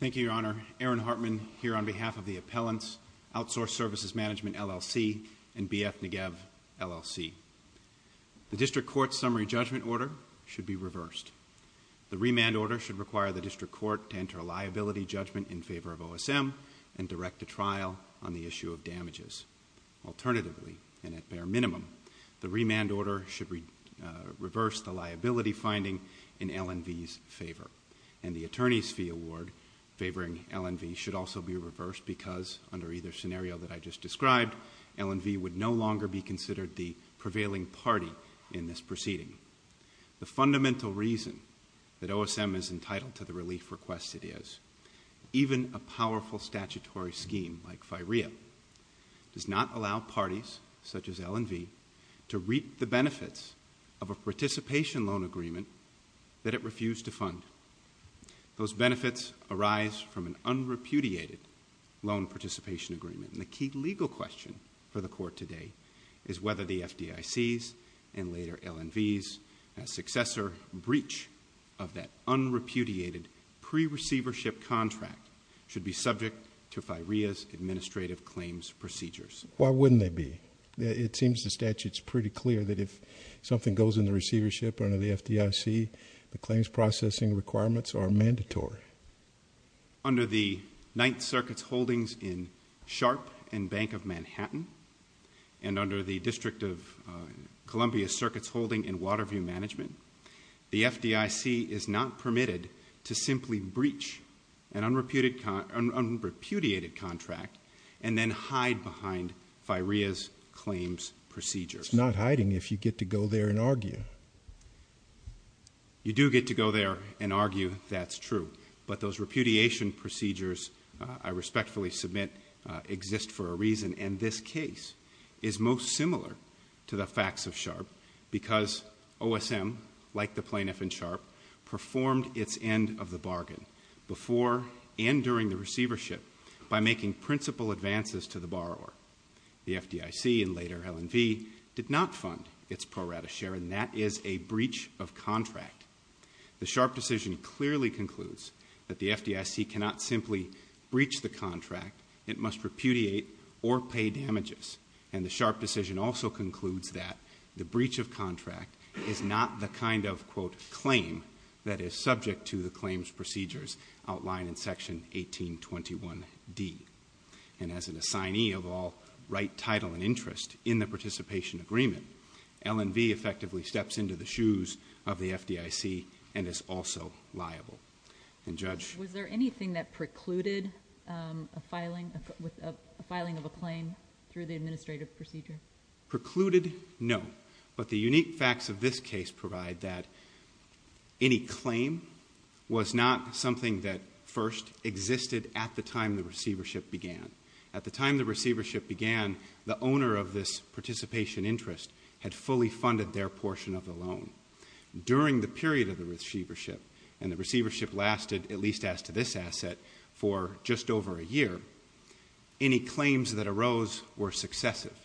Thank you, Your Honor. Aaron Hartman here on behalf of the Appellants, Outsource Services Management, LLC, and BF Negev, LLC. The District Court's summary judgment order should be reversed. The remand order should require the District Court to enter a liability judgment in favor of OSM and direct a trial on the issue of damages. Alternatively, and at bare minimum, the remand order should reverse the liability finding in LNV's favor. And the attorney's fee award favoring LNV should also be reversed because, under either scenario that I just described, LNV would no longer be considered the prevailing party in this proceeding. The fundamental reason that OSM is entitled to the relief requested is, even a powerful statutory scheme like FIREA does not allow parties such as LNV to reap the benefits of a participation loan agreement that it refused to fund. Those benefits arise from an unrepudiated loan participation agreement. And the key legal question for the Court today is whether the FDIC's and later LNV's successor breach of that unrepudiated pre-receivership contract should be subject to FIREA's administrative claims procedures. Why wouldn't they be? It seems the statute is pretty clear that if something goes in the receivership under the FDIC, the claims processing requirements are mandatory. Under the Ninth Circuit's holdings in Sharp and Bank of Manhattan, and under the District of Columbia Circuit's holding in Waterview Management, the FDIC is not permitted to simply breach an unrepudiated contract and then hide behind FIREA's claims procedures. It's not hiding if you get to go there and argue. You do get to go there and argue that's true, but those repudiation procedures I respectfully submit exist for a reason, and this case is most similar to the facts of Sharp because OSM, like the plaintiff in Sharp, performed its end of the bargain before and during the receivership by making principal advances to the borrower. The FDIC and later LNV did not fund its pro rata share, and that is a breach of contract. The Sharp decision clearly concludes that the FDIC cannot simply breach the contract. It must repudiate or pay damages. And the Sharp decision also concludes that the breach of contract is not the kind of quote, claim that is subject to the claims procedures outlined in Section 1821D. And as an assignee of all right, title, and interest in the participation agreement, LNV effectively steps into the shoes of the FDIC and is also liable. And Judge? Was there anything that precluded a filing of a claim through the administrative procedure? Precluded? No. But the unique facts of this case provide that any claim was not something that first existed at the time the receivership began. At the time the receivership began, the owner of this participation interest had fully funded their portion of the loan. During the period of the receivership, and the receivership lasted, at least as to this asset, for just over a year, any claims that arose were successive.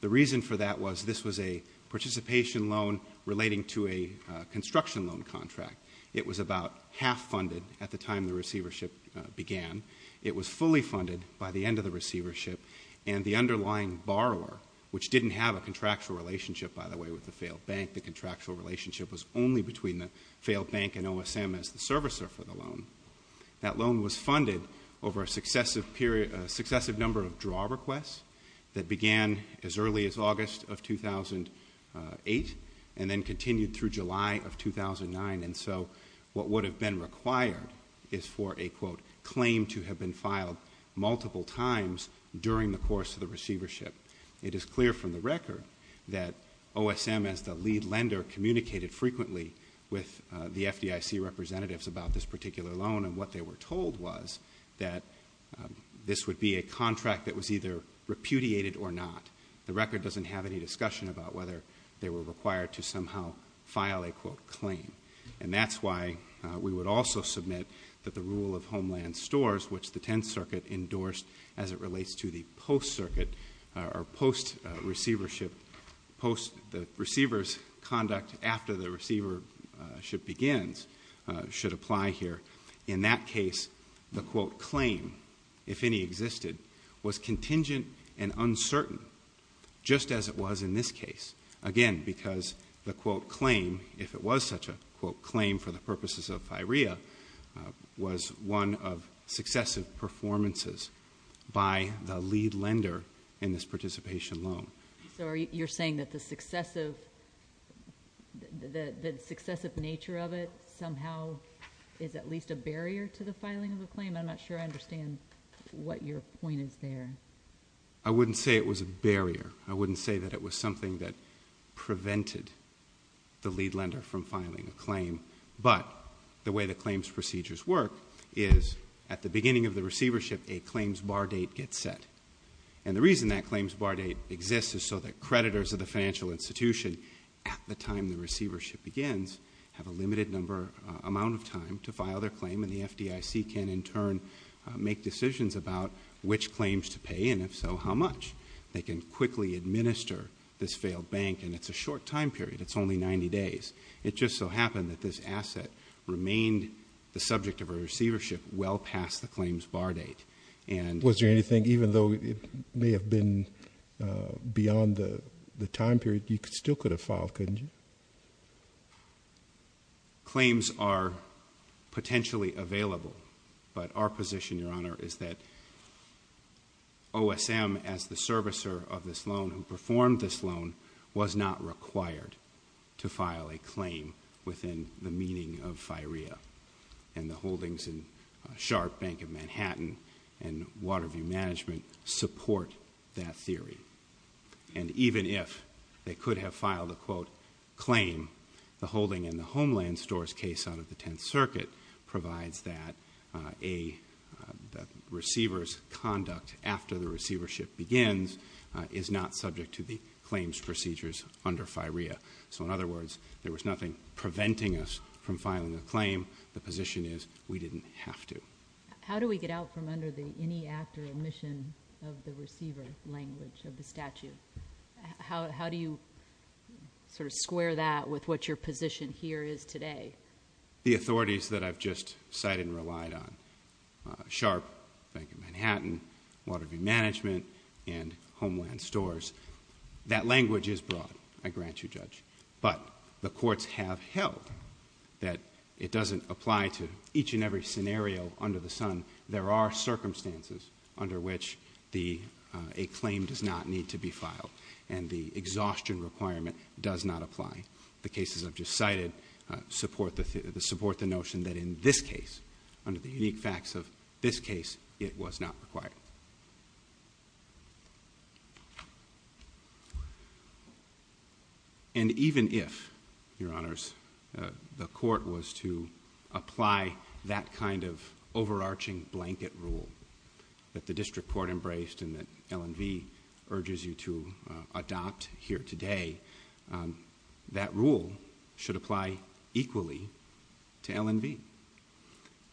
The reason for that was this was a participation loan contract. It was about half funded at the time the receivership began. It was fully funded by the end of the receivership, and the underlying borrower, which didn't have a contractual relationship, by the way, with the failed bank. The contractual relationship was only between the failed bank and OSM as the servicer for the loan. That loan was funded over a successive number of draw requests that began as early as August of 2008 and then continued through July of 2009. And so what would have been required is for a quote, claim to have been filed multiple times during the course of the receivership. It is clear from the record that OSM, as the lead lender, communicated frequently with the FDIC representatives about this particular loan and what they were told was that this would be a contract that was either repudiated or not. The record doesn't have any discussion about whether they were required to somehow file a quote, claim. And that's why we would also submit that the rule of Homeland Stores, which the Tenth Circuit endorsed as it relates to the post-circuit or post-receivership, post the receiver's conduct after the receivership begins, should apply here. In that case, the quote, claim, if any existed, was contingent and uncertain, just as it was in this case. Again, because the quote, claim, if it was such a quote, claim for the purposes of FIREA, was one of successive performances by the lead lender in this participation loan. So you're saying that the successive nature of it somehow is at least a barrier to the filing of a claim? I'm not sure I understand what your point is there. I wouldn't say it was a barrier. I wouldn't say that it was something that prevented the lead lender from filing a claim. But the way the claims procedures work is, at the beginning of the receivership, a claims bar date gets set. And the reason that claims bar date exists is so that creditors of the financial institution, at the time the receivership begins, have a limited amount of time to file their claim, and the FDIC can in turn make decisions about which claims to pay, and if so, how much. They can quickly administer this failed bank, and it's a short time period. It's only 90 days. It just so happened that this asset remained the subject of a receivership well past the claims bar date. Was there anything, even though it may have been beyond the time period, you still could have filed, couldn't you? Claims are potentially available, but our position, Your Honor, is that OSM, as the servicer of this loan, who performed this loan, was not required to file a claim within the meaning of FIREA. And the holdings in Sharp Bank of Manhattan and Waterview Management support that theory. And even if they could have filed a quote claim, the holding in the Homeland Stores case out of the Tenth Circuit provides that a receiver's conduct after the receivership begins is not subject to the claims procedures under FIREA. So in other words, there was nothing preventing us from filing a claim. The position is we didn't have to. How do we get out from under the any act or omission of the receiver language of the statute? How do you sort of square that with what your position here is today? The authorities that I've just cited and relied on, Sharp Bank of Manhattan, Waterview Management, and Homeland Stores, that language is broad, I grant you, Judge, but the courts have held that it doesn't apply to each and every scenario under the sun. There are circumstances under which a claim does not need to be filed and the exhaustion requirement does not apply. The cases I've just cited support the notion that in this case, it was not required. And even if, Your Honors, the court was to apply that kind of overarching blanket rule that the district court embraced and that L&V urges you to adopt here today, that rule should apply equally to L&V.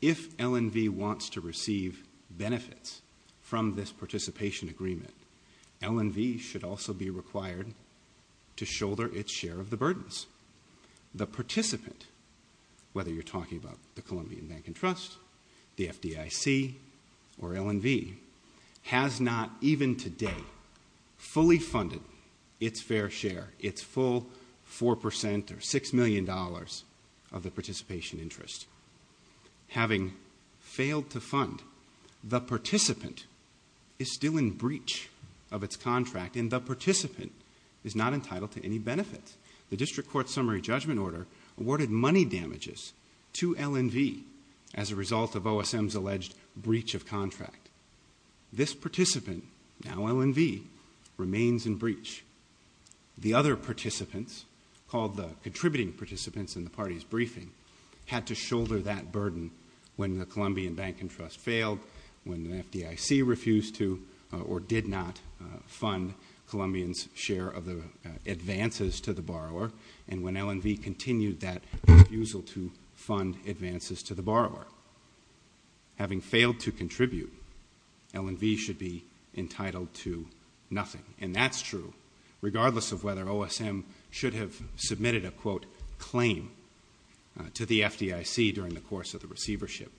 If L&V wants to receive benefits from this participation agreement, L&V should also be required to shoulder its share of the burdens. The participant, whether you're talking about the Colombian Bank and Trust, the FDIC, or its fair share, its full 4% or $6 million of the participation interest. Having failed to fund, the participant is still in breach of its contract and the participant is not entitled to any benefits. The district court summary judgment order awarded money damages to L&V as a result of breach. The other participants, called the contributing participants in the party's briefing, had to shoulder that burden when the Colombian Bank and Trust failed, when the FDIC refused to or did not fund Colombians' share of the advances to the borrower, and when L&V continued that refusal to fund advances to the borrower. Having failed to contribute, L&V should be entitled to nothing, and that's true regardless of whether OSM should have submitted a, quote, claim to the FDIC during the course of the receivership.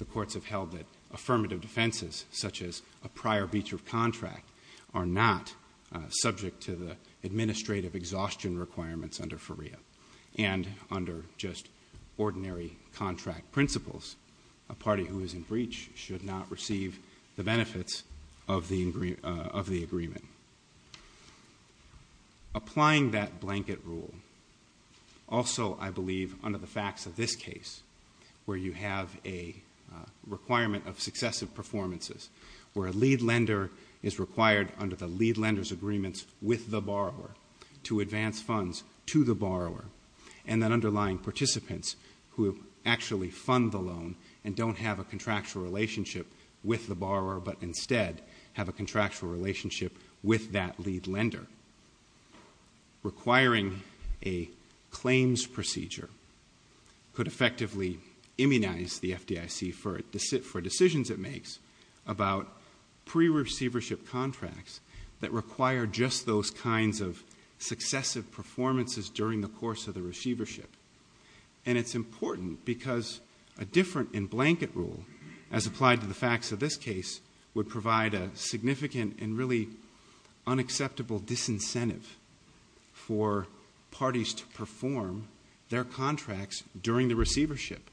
The courts have held that affirmative defenses, such as a prior breach of contract, are not subject to the administrative exhaustion requirements under FERIA, and under just ordinary contract principles, a party who is in breach should not receive the benefits of the agreement. Applying that blanket rule, also, I believe, under the facts of this case, where you have a requirement of successive performances, where a lead lender is required under the lead lender's agreements with the borrower to advance funds to the borrower, and then underlying participants who actually fund the loan and don't have a contractual relationship with the borrower, but instead have a contractual relationship with that lead lender, requiring a claims procedure could effectively immunize the FDIC for decisions it makes about pre-receivership contracts that require just those kinds of successive performances during the course of the receivership. And it's important because a different in-blanket rule, as applied to the facts of this case, would provide a significant and really unacceptable disincentive for parties to perform their contracts during the receivership.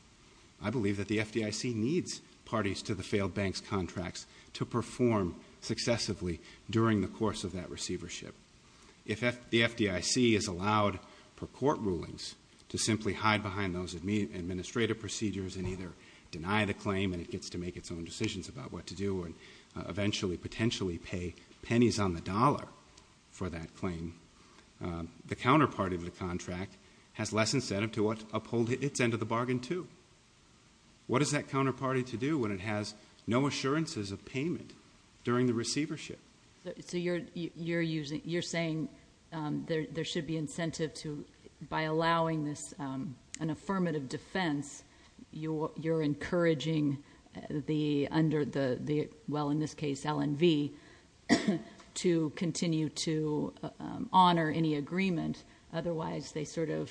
I believe that the FDIC needs parties to the failed banks' contracts to perform successively during the course of that receivership. If the FDIC is allowed, per court rulings, to simply hide behind those administrative procedures and either deny the claim and it gets to make its own decisions about what to do, or eventually potentially pay pennies on the dollar for that claim, the counterparty of the contract has less incentive to uphold its end of the bargain, too. What is that counterparty to do when it has no assurances of payment during the receivership? You're saying there should be incentive to, by allowing this, an affirmative defense, you're encouraging the, under the, well, in this case, L&V, to continue to honor any agreement, otherwise they sort of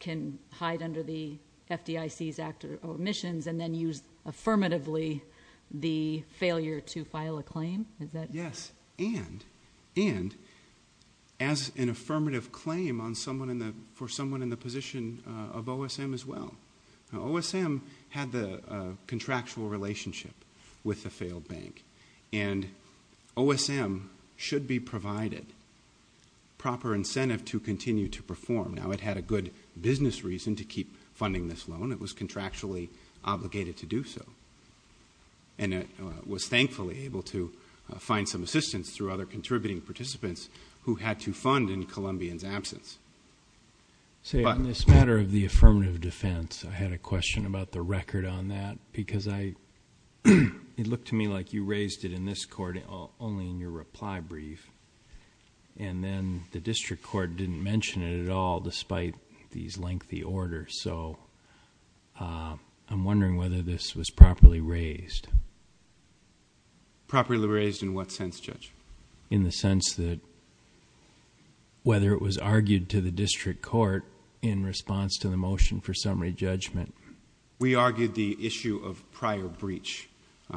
can hide under the FDIC's omissions and then use affirmatively the failure to file a claim? Yes, and as an affirmative claim for someone in the position of OSM as well. OSM had the contractual relationship with the failed bank, and OSM should be provided proper incentive to continue to perform. Now, it had a good business reason to keep funding this loan. It was contractually obligated to do so. And it was thankfully able to find some assistance through other contributing participants who had to fund in Columbian's absence. Say, on this matter of the affirmative defense, I had a question about the reply brief, and then the district court didn't mention it at all, despite these lengthy orders. So, I'm wondering whether this was properly raised. Properly raised in what sense, Judge? In the sense that, whether it was argued to the district court in response to the motion for summary judgment. We argued the issue of prior breach.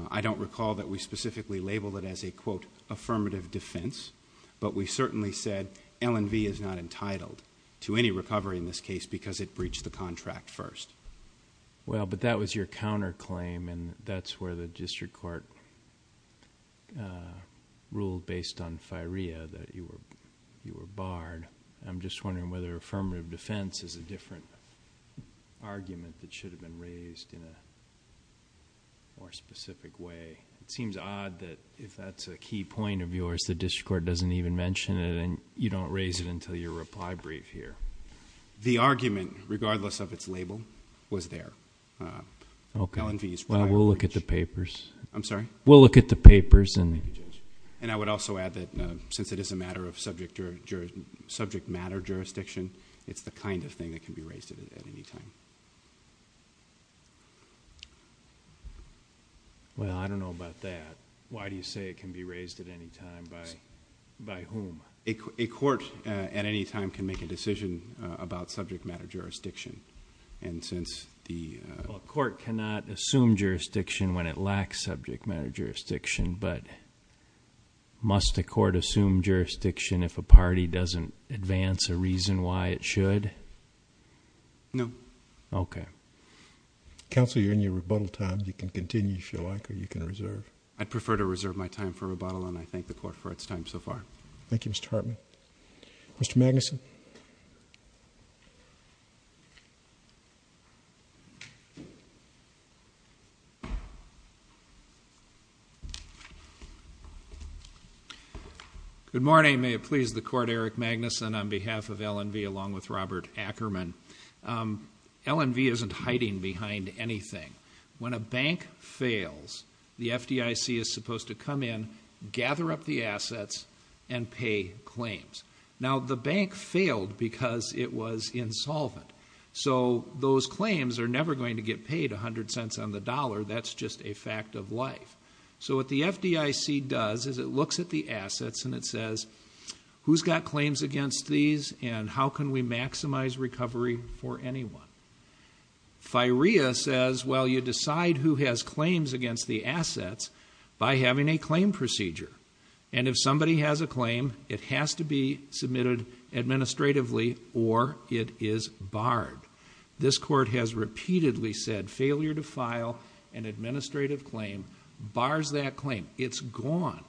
I don't recall that we specifically labeled it as a quote, affirmative defense, but we certainly said L&V is not entitled to any recovery in this case because it breached the contract first. Well, but that was your counterclaim, and that's where the district court ruled based on FIREA that you were I think it should have been raised in a more specific way. It seems odd that if that's a key point of yours, the district court doesn't even mention it, and you don't raise it until your reply brief here. The argument, regardless of its label, was there. L&V's prior breach. We'll look at the papers. I'm sorry? We'll look at the papers. And I would also add that since it is a matter of Well, I don't know about that. Why do you say it can be raised at any time by whom? A court at any time can make a decision about subject matter jurisdiction. A court cannot assume jurisdiction when it lacks subject matter jurisdiction, but must a court assume jurisdiction if a Okay. Counsel, you're in your rebuttal time. You can continue if you like, or you can reserve. I'd prefer to reserve my time for rebuttal, and I thank the court for its time so far. Thank you, Mr. Hartman. Mr. Magnuson. Good morning. May it please the court, Eric Magnuson, on behalf of L&V, along with Robert Ackerman. L&V isn't hiding behind anything. When a bank fails, the FDIC is failed because it was insolvent. So those claims are never going to get paid a hundred cents on the dollar. That's just a fact of life. So what the FDIC does is it looks at the assets and it says, who's got claims against these, and how can we maximize recovery for anyone? FIREA says, well, you decide who has claims against the assets by having a claim procedure. And if somebody has a claim, it has to be submitted administratively or it is barred. This court has repeatedly said, failure to file an administrative claim bars that claim. It's gone.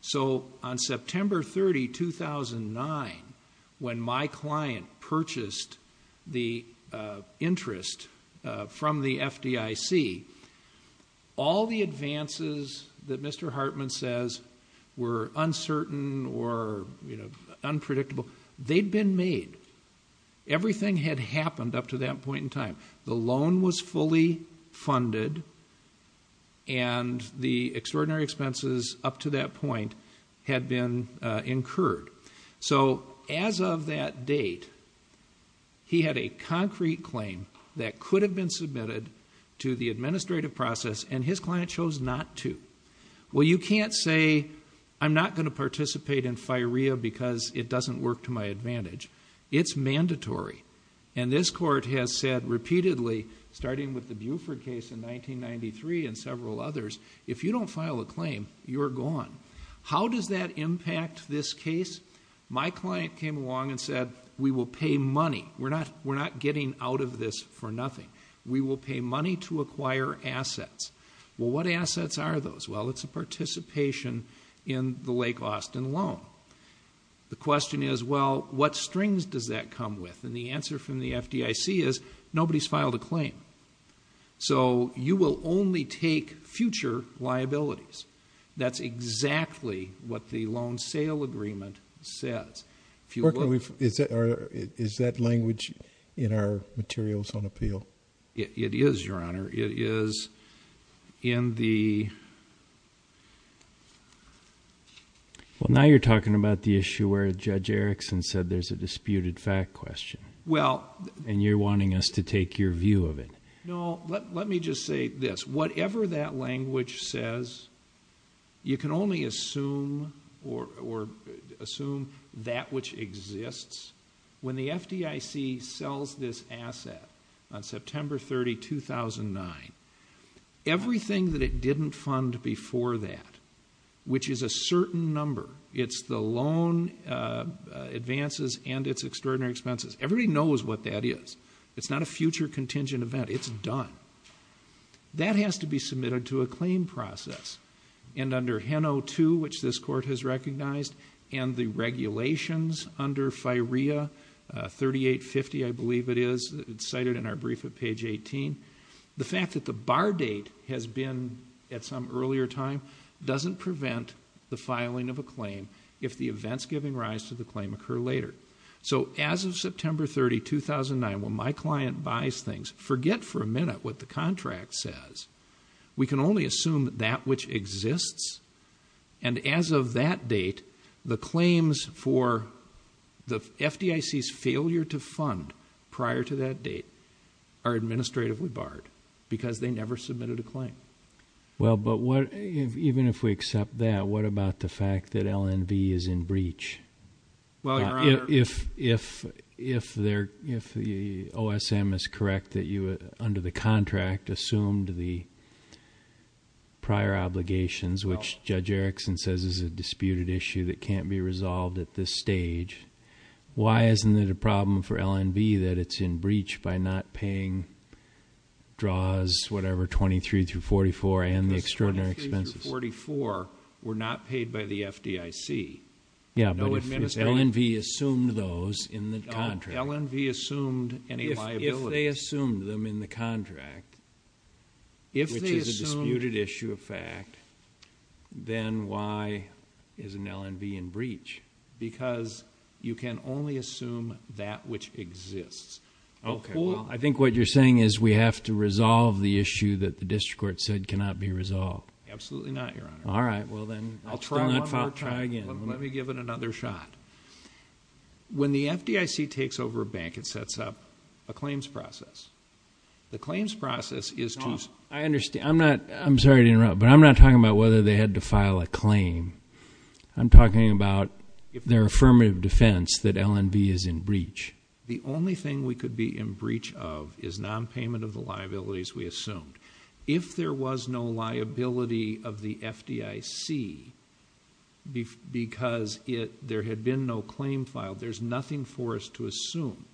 So on September 30, 2009, when my client purchased the interest from the FDIC, all the advances that Mr. Hartman says were uncertain or unpredictable, they'd been made. Everything had happened up to that point in time. The loan was fully funded and the extraordinary expenses up to that point had been submitted to the administrative process and his client chose not to. Well, you can't say, I'm not going to participate in FIREA because it doesn't work to my advantage. It's mandatory. And this court has said repeatedly, starting with the Buford case in 1993 and several others, if you don't file a claim, you're gone. How does that impact this case? My client came along and said, we will pay money. We're not getting out of this for nothing. We will pay money to acquire assets. Well, what assets are those? Well, it's a participation in the Lake Austin loan. The question is, well, what strings does that come with? And the answer from the FDIC is, nobody's filed a claim. So you will only take future liabilities. That's exactly what the loan sale agreement says. Is that language in our materials on appeal? It is, Your Honor. It is in the... Well, now you're talking about the issue where Judge Erickson said there's a disputed fact question. And you're wanting us to take your view of it. No, let me just say this. Whatever that language says, you can only assume that which exists. When the FDIC sells this asset on September 30, 2009, everything that it didn't fund before that, which is a certain number, it's the loan advances and its extraordinary expenses. Everybody knows what that is. It's not a future contingent event. It's done. That has to be submitted to a claim process. And under HEN02, which this Court has recognized, and the regulations under FIREA 3850, I believe it is. It's cited in our brief at page 18. The fact that the bar date has been at some earlier time doesn't prevent the filing of a claim if the events giving rise to the claim occur later. So as of September 30, 2009, when my client buys things, forget for a minute what the contract says. We can only assume that which exists. And as of that date, the claims for the FDIC's failure to fund prior to that date are administratively barred because they never submitted a claim. Even if we accept that, what about the fact that LNV is in breach? If the OSM is correct that you, under the contract, assumed the prior obligations, which Judge Erickson says is a that it's in breach by not paying draws, whatever, 23 through 44, and the extraordinary expenses. The 23 through 44 were not paid by the FDIC. Yeah, but if LNV assumed those in the contract. If LNV assumed any liabilities. If they assumed them in the contract, which is a disputed issue of fact, then why isn't LNV in breach? Because you can only assume that which exists. I think what you're saying is we have to resolve the issue that the district court said cannot be resolved. Absolutely not, Your Honor. I'll try one more time. Let me give it another shot. When the FDIC takes over a bank, it sets up a claims process. I'm sorry to interrupt, but I'm not talking about whether they had to file a claim. I'm talking about their affirmative defense that LNV is in breach. The only thing we could be in breach of is nonpayment of the liabilities we assumed. If there was no liability of the FDIC because there had been no claim filed, there's nothing for us to assume.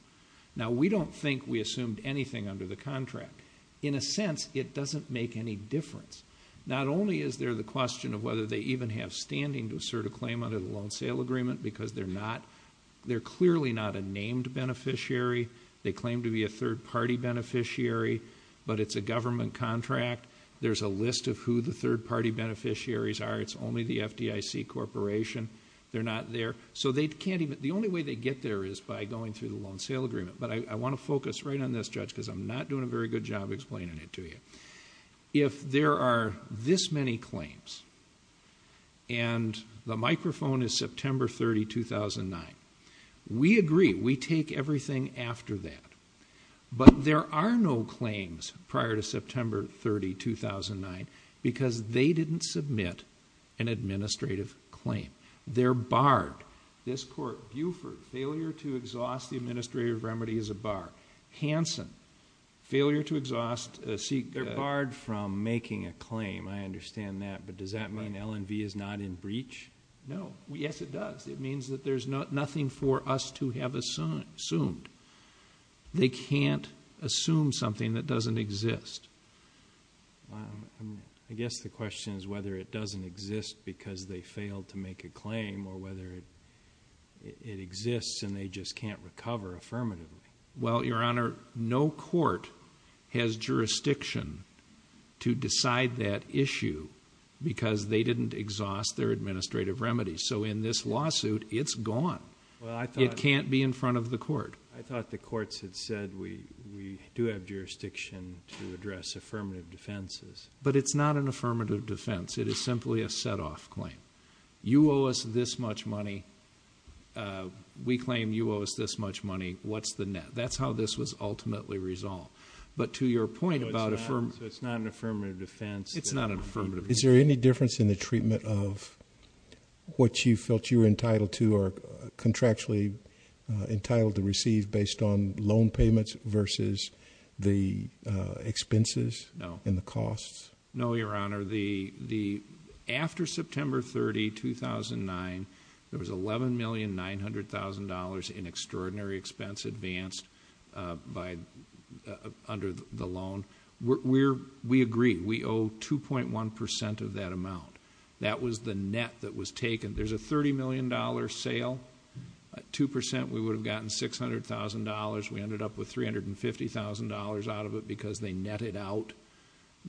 Now, we don't think we assumed anything under the contract. In a sense, it doesn't make any difference. Not only is there the question of whether they even have standing to assert a claim under the Loan Sale Agreement because they're clearly not a named beneficiary. They claim to be a third-party beneficiary, but it's a government contract. There's a list of who the third-party beneficiaries are. It's only the FDIC Corporation. They're not there. The only way they get there is by going through the Loan Sale Agreement, but I want to focus right on this, Judge, because I'm not doing a very good job explaining it to you. If there are this many claims and the microphone is September 30, 2009, we agree. We take everything after that, but there are no claims prior to September 30, 2009 because they didn't submit an administrative claim. They're barred. This court, Buford, failure to exhaust the administrative remedy is a bar. Hansen, failure to exhaust a C... They're barred from making a claim. I understand that, but does that mean L&V is not in breach? No. Yes, it does. It means that there's nothing for us to have assumed. They can't assume something that doesn't exist. I guess the question is whether it doesn't exist because they failed to make a claim or whether it exists and they just can't recover affirmatively. Well, Your Honor, no court has jurisdiction to decide that issue because they didn't exhaust their administrative remedy, so in this lawsuit, it's gone. It can't be in front of the court. I thought the courts had said, we do have jurisdiction to address affirmative defenses. But it's not an affirmative defense. It is simply a set-off claim. You owe us this much money. We claim you owe us this much money. What's the net? That's how this was ultimately resolved, but to your point about... So it's not an affirmative defense? It's not an affirmative defense. Is there any difference in the treatment of what you felt you were entitled to or contractually entitled to receive based on loan payments versus the expenses and the costs? No. No, Your Honor. After September 30, 2009, there was $11,900,000 in extraordinary expense advanced under the loan. We agree. We owe 2.1% of that amount. That was the net that was taken. There's a $30 million sale. At 2%, we would have gotten $600,000. We ended up with $350,000 out of it because they netted out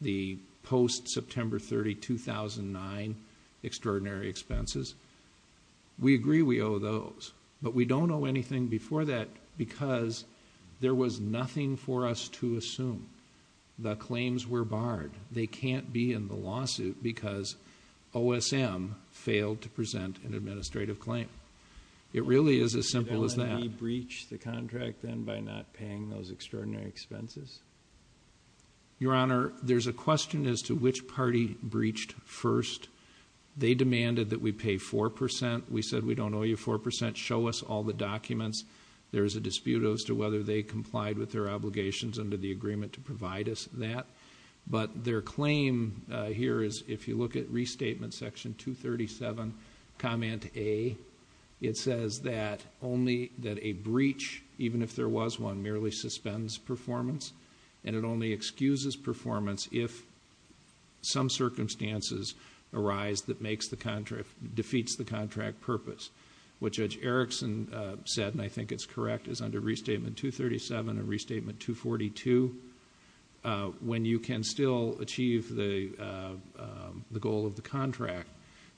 the post-September 30, 2009, extraordinary expenses. We agree we owe those, but we don't owe anything before that because there was nothing for us to assume. The claims were barred. They can't be in the lawsuit because OSM failed to present an administrative claim. It really is as simple as that. Did L&E breach the contract then by not paying those extraordinary expenses? Your Honor, there's a question as to which party breached first. They demanded that we pay 4%. We said we don't owe you 4%. They didn't show us all the documents. There's a dispute as to whether they complied with their obligations under the agreement to provide us that. But their claim here is, if you look at Restatement Section 237, Comment A, it says that a breach, even if there was one, merely suspends performance, and it only excuses performance if some circumstances arise that defeats the contract purpose. What Judge Erickson said, and I think it's correct, is under Restatement 237 and Restatement 242, when you can still achieve the goal of the contract,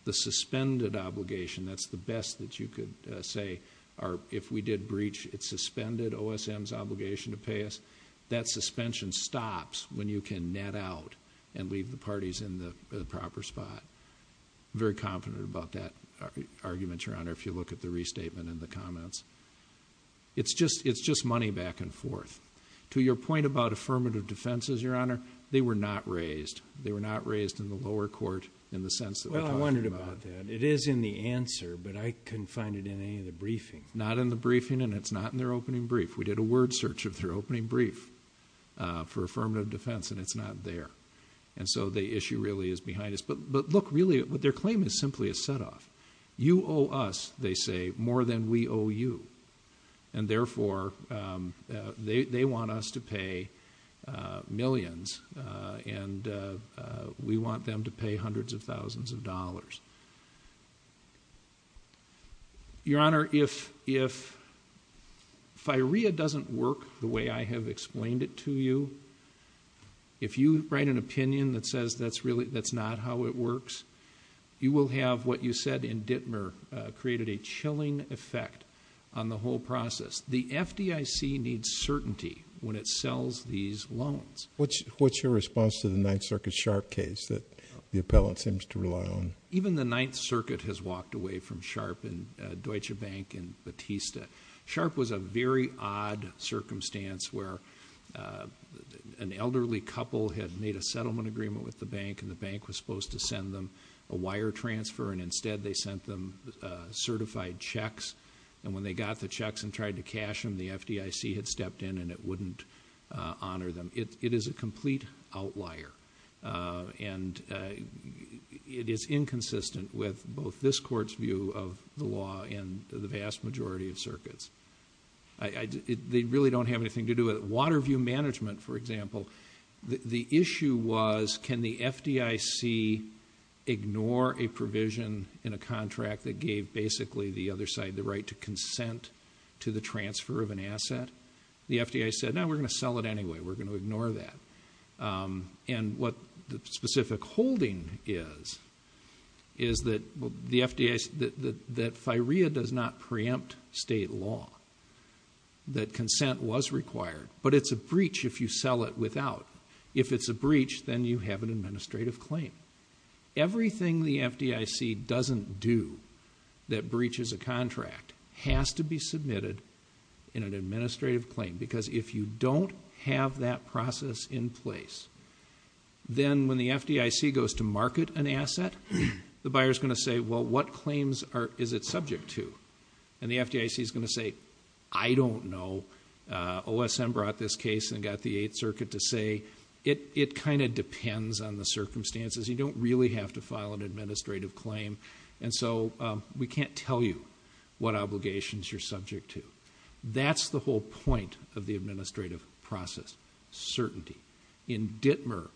the suspended obligation, that's the best that you could say, or if we did breach, it suspended OSM's obligation to pay us, that suspension stops when you can net out and leave the parties in the proper spot. I'm very confident about that argument, Your Honor, if you look at the restatement and the comments. It's just money back and forth. To your point about affirmative defenses, Your Honor, they were not raised. They were not raised in the lower court in the sense that we're talking about. Well, I wondered about that. It is in the answer, but I couldn't find it in any of the briefing. Not in the briefing, and it's not in their opening brief. We did a word search of their opening brief for affirmative defense, and it's not there. And so the issue really is behind us. But look, really, their claim is simply a set-off. You owe us, they say, more than we owe you, and therefore they want us to pay millions, and we want them to pay hundreds of thousands of dollars. Your Honor, if FIREA doesn't work the way I have explained it to you, if you write an opinion that says that's not how it works, you will have what you said in Dittmer created a chilling effect on the whole process. The FDIC needs certainty when it sells these loans. What's your response to the Ninth Circuit Sharpe case that the appellant seems to rely on? Even the Ninth Circuit has walked away from Sharpe and Deutsche Bank and Batista. Sharpe was a very odd circumstance where an elderly couple had made a settlement agreement with the bank, and the bank was supposed to send them a wire transfer, and instead they sent them certified checks. And when they got the checks and tried to cash them, the FDIC had stepped in, and it wouldn't honor them. It is a complete outlier, and it is inconsistent with both this court's view of the law and the vast majority of circuits. They really don't have anything to do with it. Waterview Management, for example, the issue was, can the FDIC ignore a provision in a contract that gave basically the other side the right to consent to the transfer of an asset? The FDIC said, no, we're going to sell it anyway. We're going to ignore that. And what the specific holding is, is that the FDIC, that FIREA does not preempt state law, that consent was required, but it's a breach if you sell it without. If it's a breach, then you have an administrative claim. Everything the FDIC doesn't do that breaches a contract has to be submitted in an administrative claim, because if you don't have that process in place, then when the FDIC goes to market an asset, the buyer is going to say, well, what claims is it subject to? And the FDIC is going to say, I don't know. OSM brought this case and got the Eighth Circuit to say, it kind of depends on the circumstances. You don't really have to file an administrative claim, and so we can't tell you what obligations you're subject to. That's the whole point of the administrative process, certainty. In Dittmer,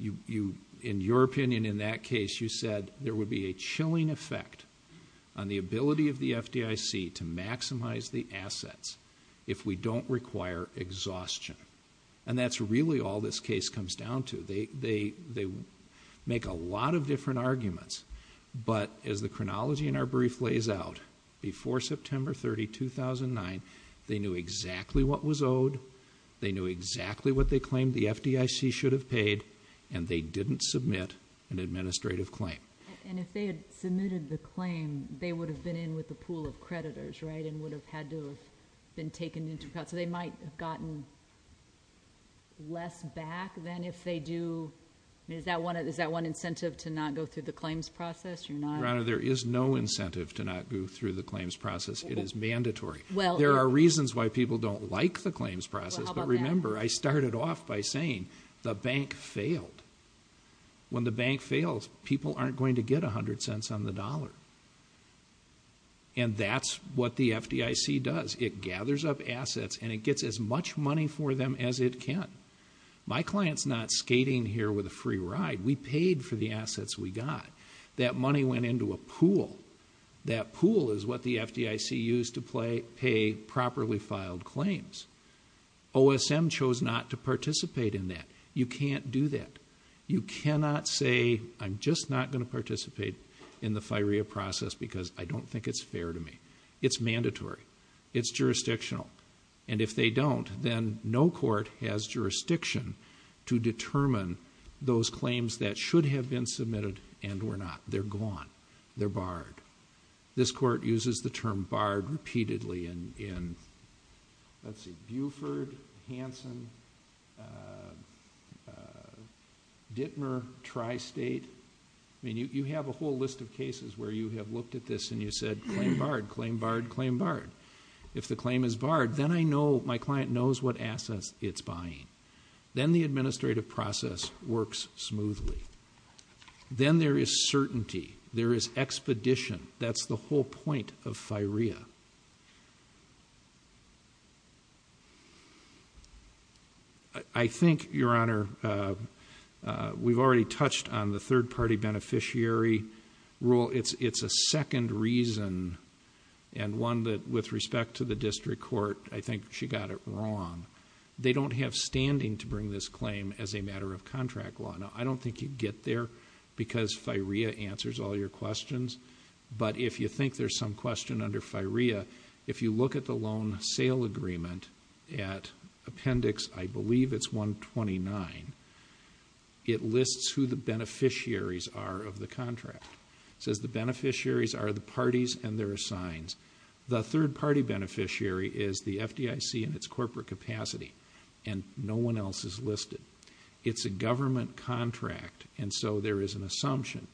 in your opinion in that case, you said there would be a chilling effect on the ability of the FDIC to maximize the assets if we don't require exhaustion. And that's really all this case comes down to. They make a lot of different arguments, but as the chronology in our brief lays out, before September 30, 2009, they knew exactly what was owed, they knew exactly what they claimed the FDIC should have paid, and they didn't submit an administrative claim. And if they had submitted the claim, they would have been in with a pool of creditors, right, and would have had to have been taken into account. So they might have gotten less back than if they do. Is that one incentive to not go through the claims process? Your Honor, there is no incentive to not go through the claims process. It is mandatory. There are reasons why people don't like the claims process, but remember, I started off by saying the bank failed. When the bank fails, people aren't going to get 100 cents on the dollar. And that's what the FDIC does. It gathers up assets, and it gets as much money for them as it can. My client's not skating here with a free ride. We paid for the assets we got. That money went into a pool. That pool is what the FDIC used to pay properly filed claims. OSM chose not to participate in that. You can't do that. You cannot say, I'm just not going to participate in the FIREA process because I don't think it's fair to me. It's mandatory. It's jurisdictional. And if they don't, then no court has jurisdiction to determine those claims that should have been submitted and were not. They're gone. They're barred. This court uses the term barred repeatedly in, let's see, Buford, Hanson, Dittmer, Tri-State. I mean, you have a whole list of cases where you have looked at this and you said, claim barred, claim barred, claim barred. If the claim is barred, then I know my client knows what assets it's buying. Then the administrative process works smoothly. Then there is certainty. There is expedition. That's the whole point of FIREA. I think, Your Honor, we've already touched on the third-party beneficiary rule. It's a second reason and one that, with respect to the district court, I think she got it wrong. They don't have standing to bring this claim as a matter of contract law. Now, I don't think you'd get there because FIREA answers all your questions. But if you think there's some question under FIREA, if you look at the loan sale agreement at Appendix, I believe it's 129, it lists who the beneficiaries are of the contract. It says the beneficiaries are the parties and their assigns. The third-party beneficiary is the FDIC in its corporate capacity, and no one else is listed. It's a government contract, and so there is an assumption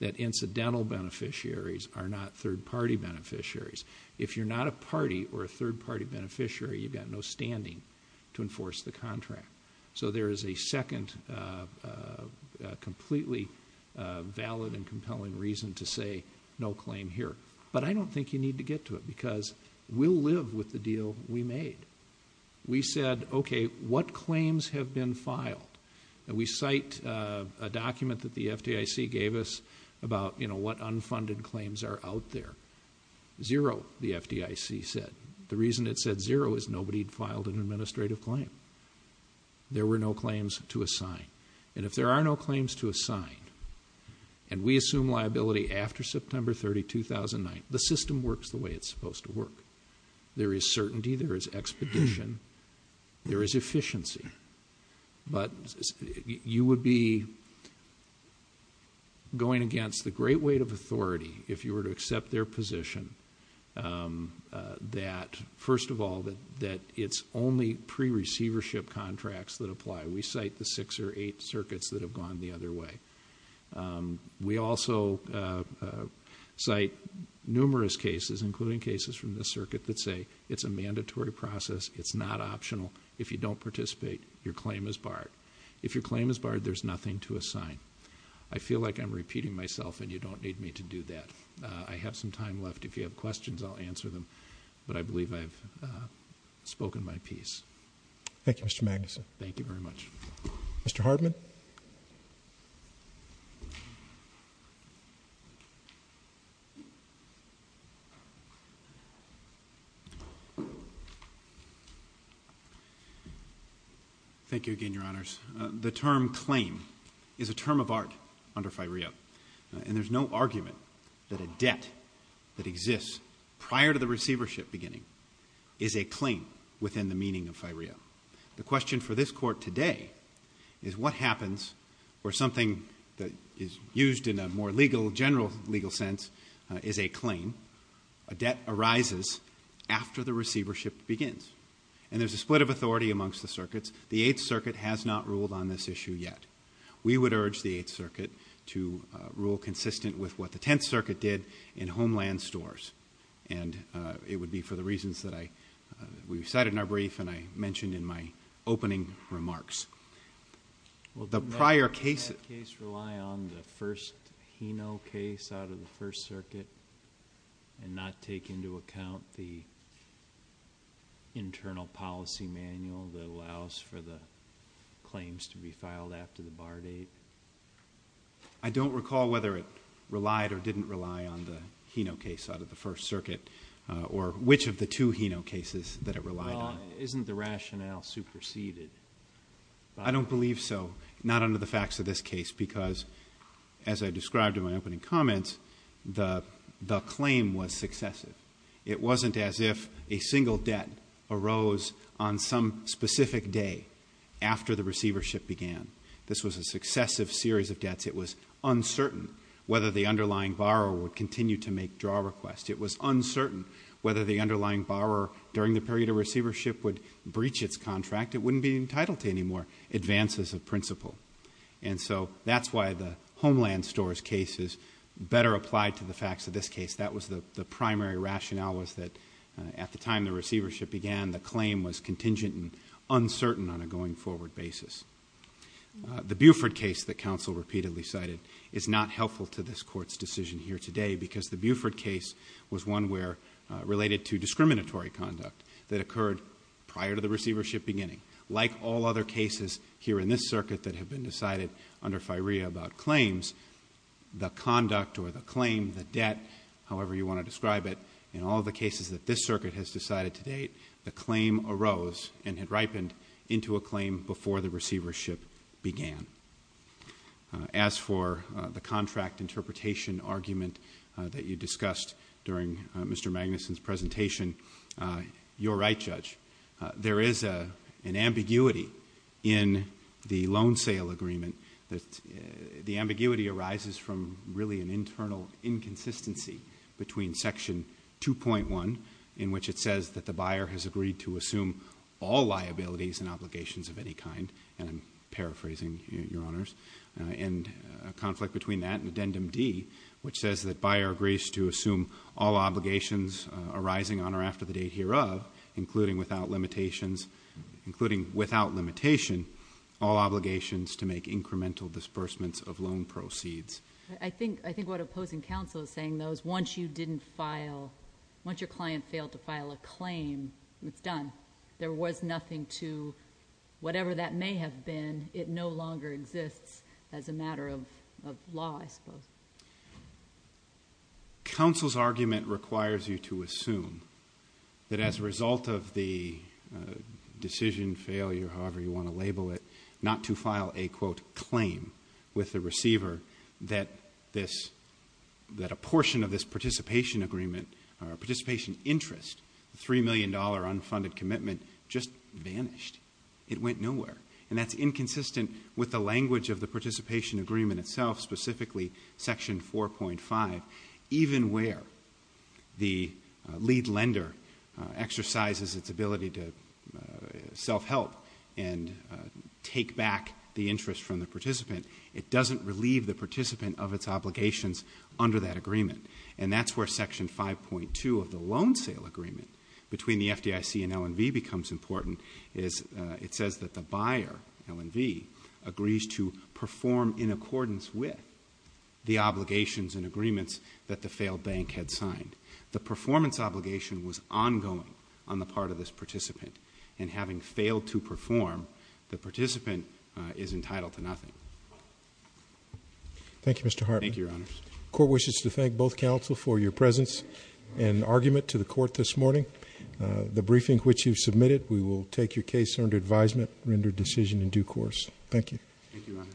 that incidental beneficiaries are not third-party beneficiaries. If you're not a party or a third-party beneficiary, you've got no standing to enforce the contract. So there is a second completely valid and compelling reason to say no claim here. But I don't think you need to get to it because we'll live with the deal we made. We said, okay, what claims have been filed? And we cite a document that the FDIC gave us about what unfunded claims are out there. Zero, the FDIC said. The reason it said zero is nobody had filed an administrative claim. There were no claims to assign. And if there are no claims to assign, and we assume liability after September 30, 2009, the system works the way it's supposed to work. There is certainty, there is expedition, there is efficiency. But you would be going against the great weight of authority if you were to accept their position that, first of all, that it's only pre-receivership contracts that apply. We cite the six or eight circuits that have gone the other way. We also cite numerous cases, including cases from this circuit, that say it's a mandatory process, it's not optional. If you don't participate, your claim is barred. If your claim is barred, there's nothing to assign. I feel like I'm repeating myself, and you don't need me to do that. I have some time left. If you have questions, I'll answer them. But I believe I've spoken my piece. Thank you, Mr. Magnuson. Thank you very much. Mr. Hardman. Thank you again, Your Honors. The term claim is a term of art under FIREO, and there's no argument that a debt that exists prior to the receivership beginning is a claim within the meaning of FIREO. The question for this Court today is what happens where something that is used in a more general legal sense is a claim. A debt arises after the receivership begins, and there's a split of authority amongst the circuits. The Eighth Circuit has not ruled on this issue yet. We would urge the Eighth Circuit to rule consistent with what the Tenth Circuit did in Homeland Stores, and it would be for the reasons that we cited in our brief and I mentioned in my opening remarks. The prior cases rely on the first HINO case out of the First Circuit and not take into account the internal policy manual that allows for the claims to be filed after the bar date. I don't recall whether it relied or didn't rely on the HINO case out of the First Circuit or which of the two HINO cases that it relied on. Well, isn't the rationale superseded? I don't believe so, not under the facts of this case, because as I described in my opening comments, the claim was successive. It wasn't as if a single debt arose on some specific day after the receivership began. This was a successive series of debts. It was uncertain whether the underlying borrower would continue to make draw requests. It was uncertain whether the underlying borrower during the period of receivership would breach its contract. It wouldn't be entitled to any more advances of principle. And so that's why the Homeland Stores case is better applied to the facts of this case. That was the primary rationale was that at the time the receivership began, the claim was contingent and uncertain on a going-forward basis. The Buford case that counsel repeatedly cited is not helpful to this Court's decision here today because the Buford case was one related to discriminatory conduct that occurred prior to the receivership beginning. Like all other cases here in this circuit that have been decided under FIREA about claims, the conduct or the claim, the debt, however you want to describe it, in all the cases that this circuit has decided to date, the claim arose and had ripened into a claim before the receivership began. As for the contract interpretation argument that you discussed during Mr. Magnuson's presentation, you're right, Judge, there is an ambiguity in the loan sale agreement. The ambiguity arises from really an internal inconsistency between Section 2.1, in which it says that the buyer has agreed to assume all liabilities and obligations of any kind, and I'm paraphrasing, Your Honors, and a conflict between that and Addendum D, which says that buyer agrees to assume all obligations arising on or after the date hereof, including without limitation, all obligations to make incremental disbursements of loan proceeds. I think what opposing counsel is saying, though, is once you didn't file, once your client failed to file a claim, it's done. There was nothing to whatever that may have been. It no longer exists as a matter of law, I suppose. Counsel's argument requires you to assume that as a result of the decision, failure, however you want to label it, not to file a, quote, claim with the receiver that a portion of this participation agreement or participation interest, the $3 million unfunded commitment, just vanished. It went nowhere, and that's inconsistent with the language of the participation agreement itself, specifically Section 4.5. Even where the lead lender exercises its ability to self-help and take back the interest from the participant, it doesn't relieve the participant of its obligations under that agreement, and that's where Section 5.2 of the loan sale agreement between the FDIC and L&V becomes important. It says that the buyer, L&V, agrees to perform in accordance with the obligations and agreements that the failed bank had signed. The performance obligation was ongoing on the part of this participant, and having failed to perform, the participant is entitled to nothing. Thank you, Mr. Harpin. Thank you, Your Honors. Court wishes to thank both counsel for your presence and argument to the Court this morning. The briefing which you submitted, we will take your case under advisement, render decision in due course. Thank you. Thank you, Your Honor.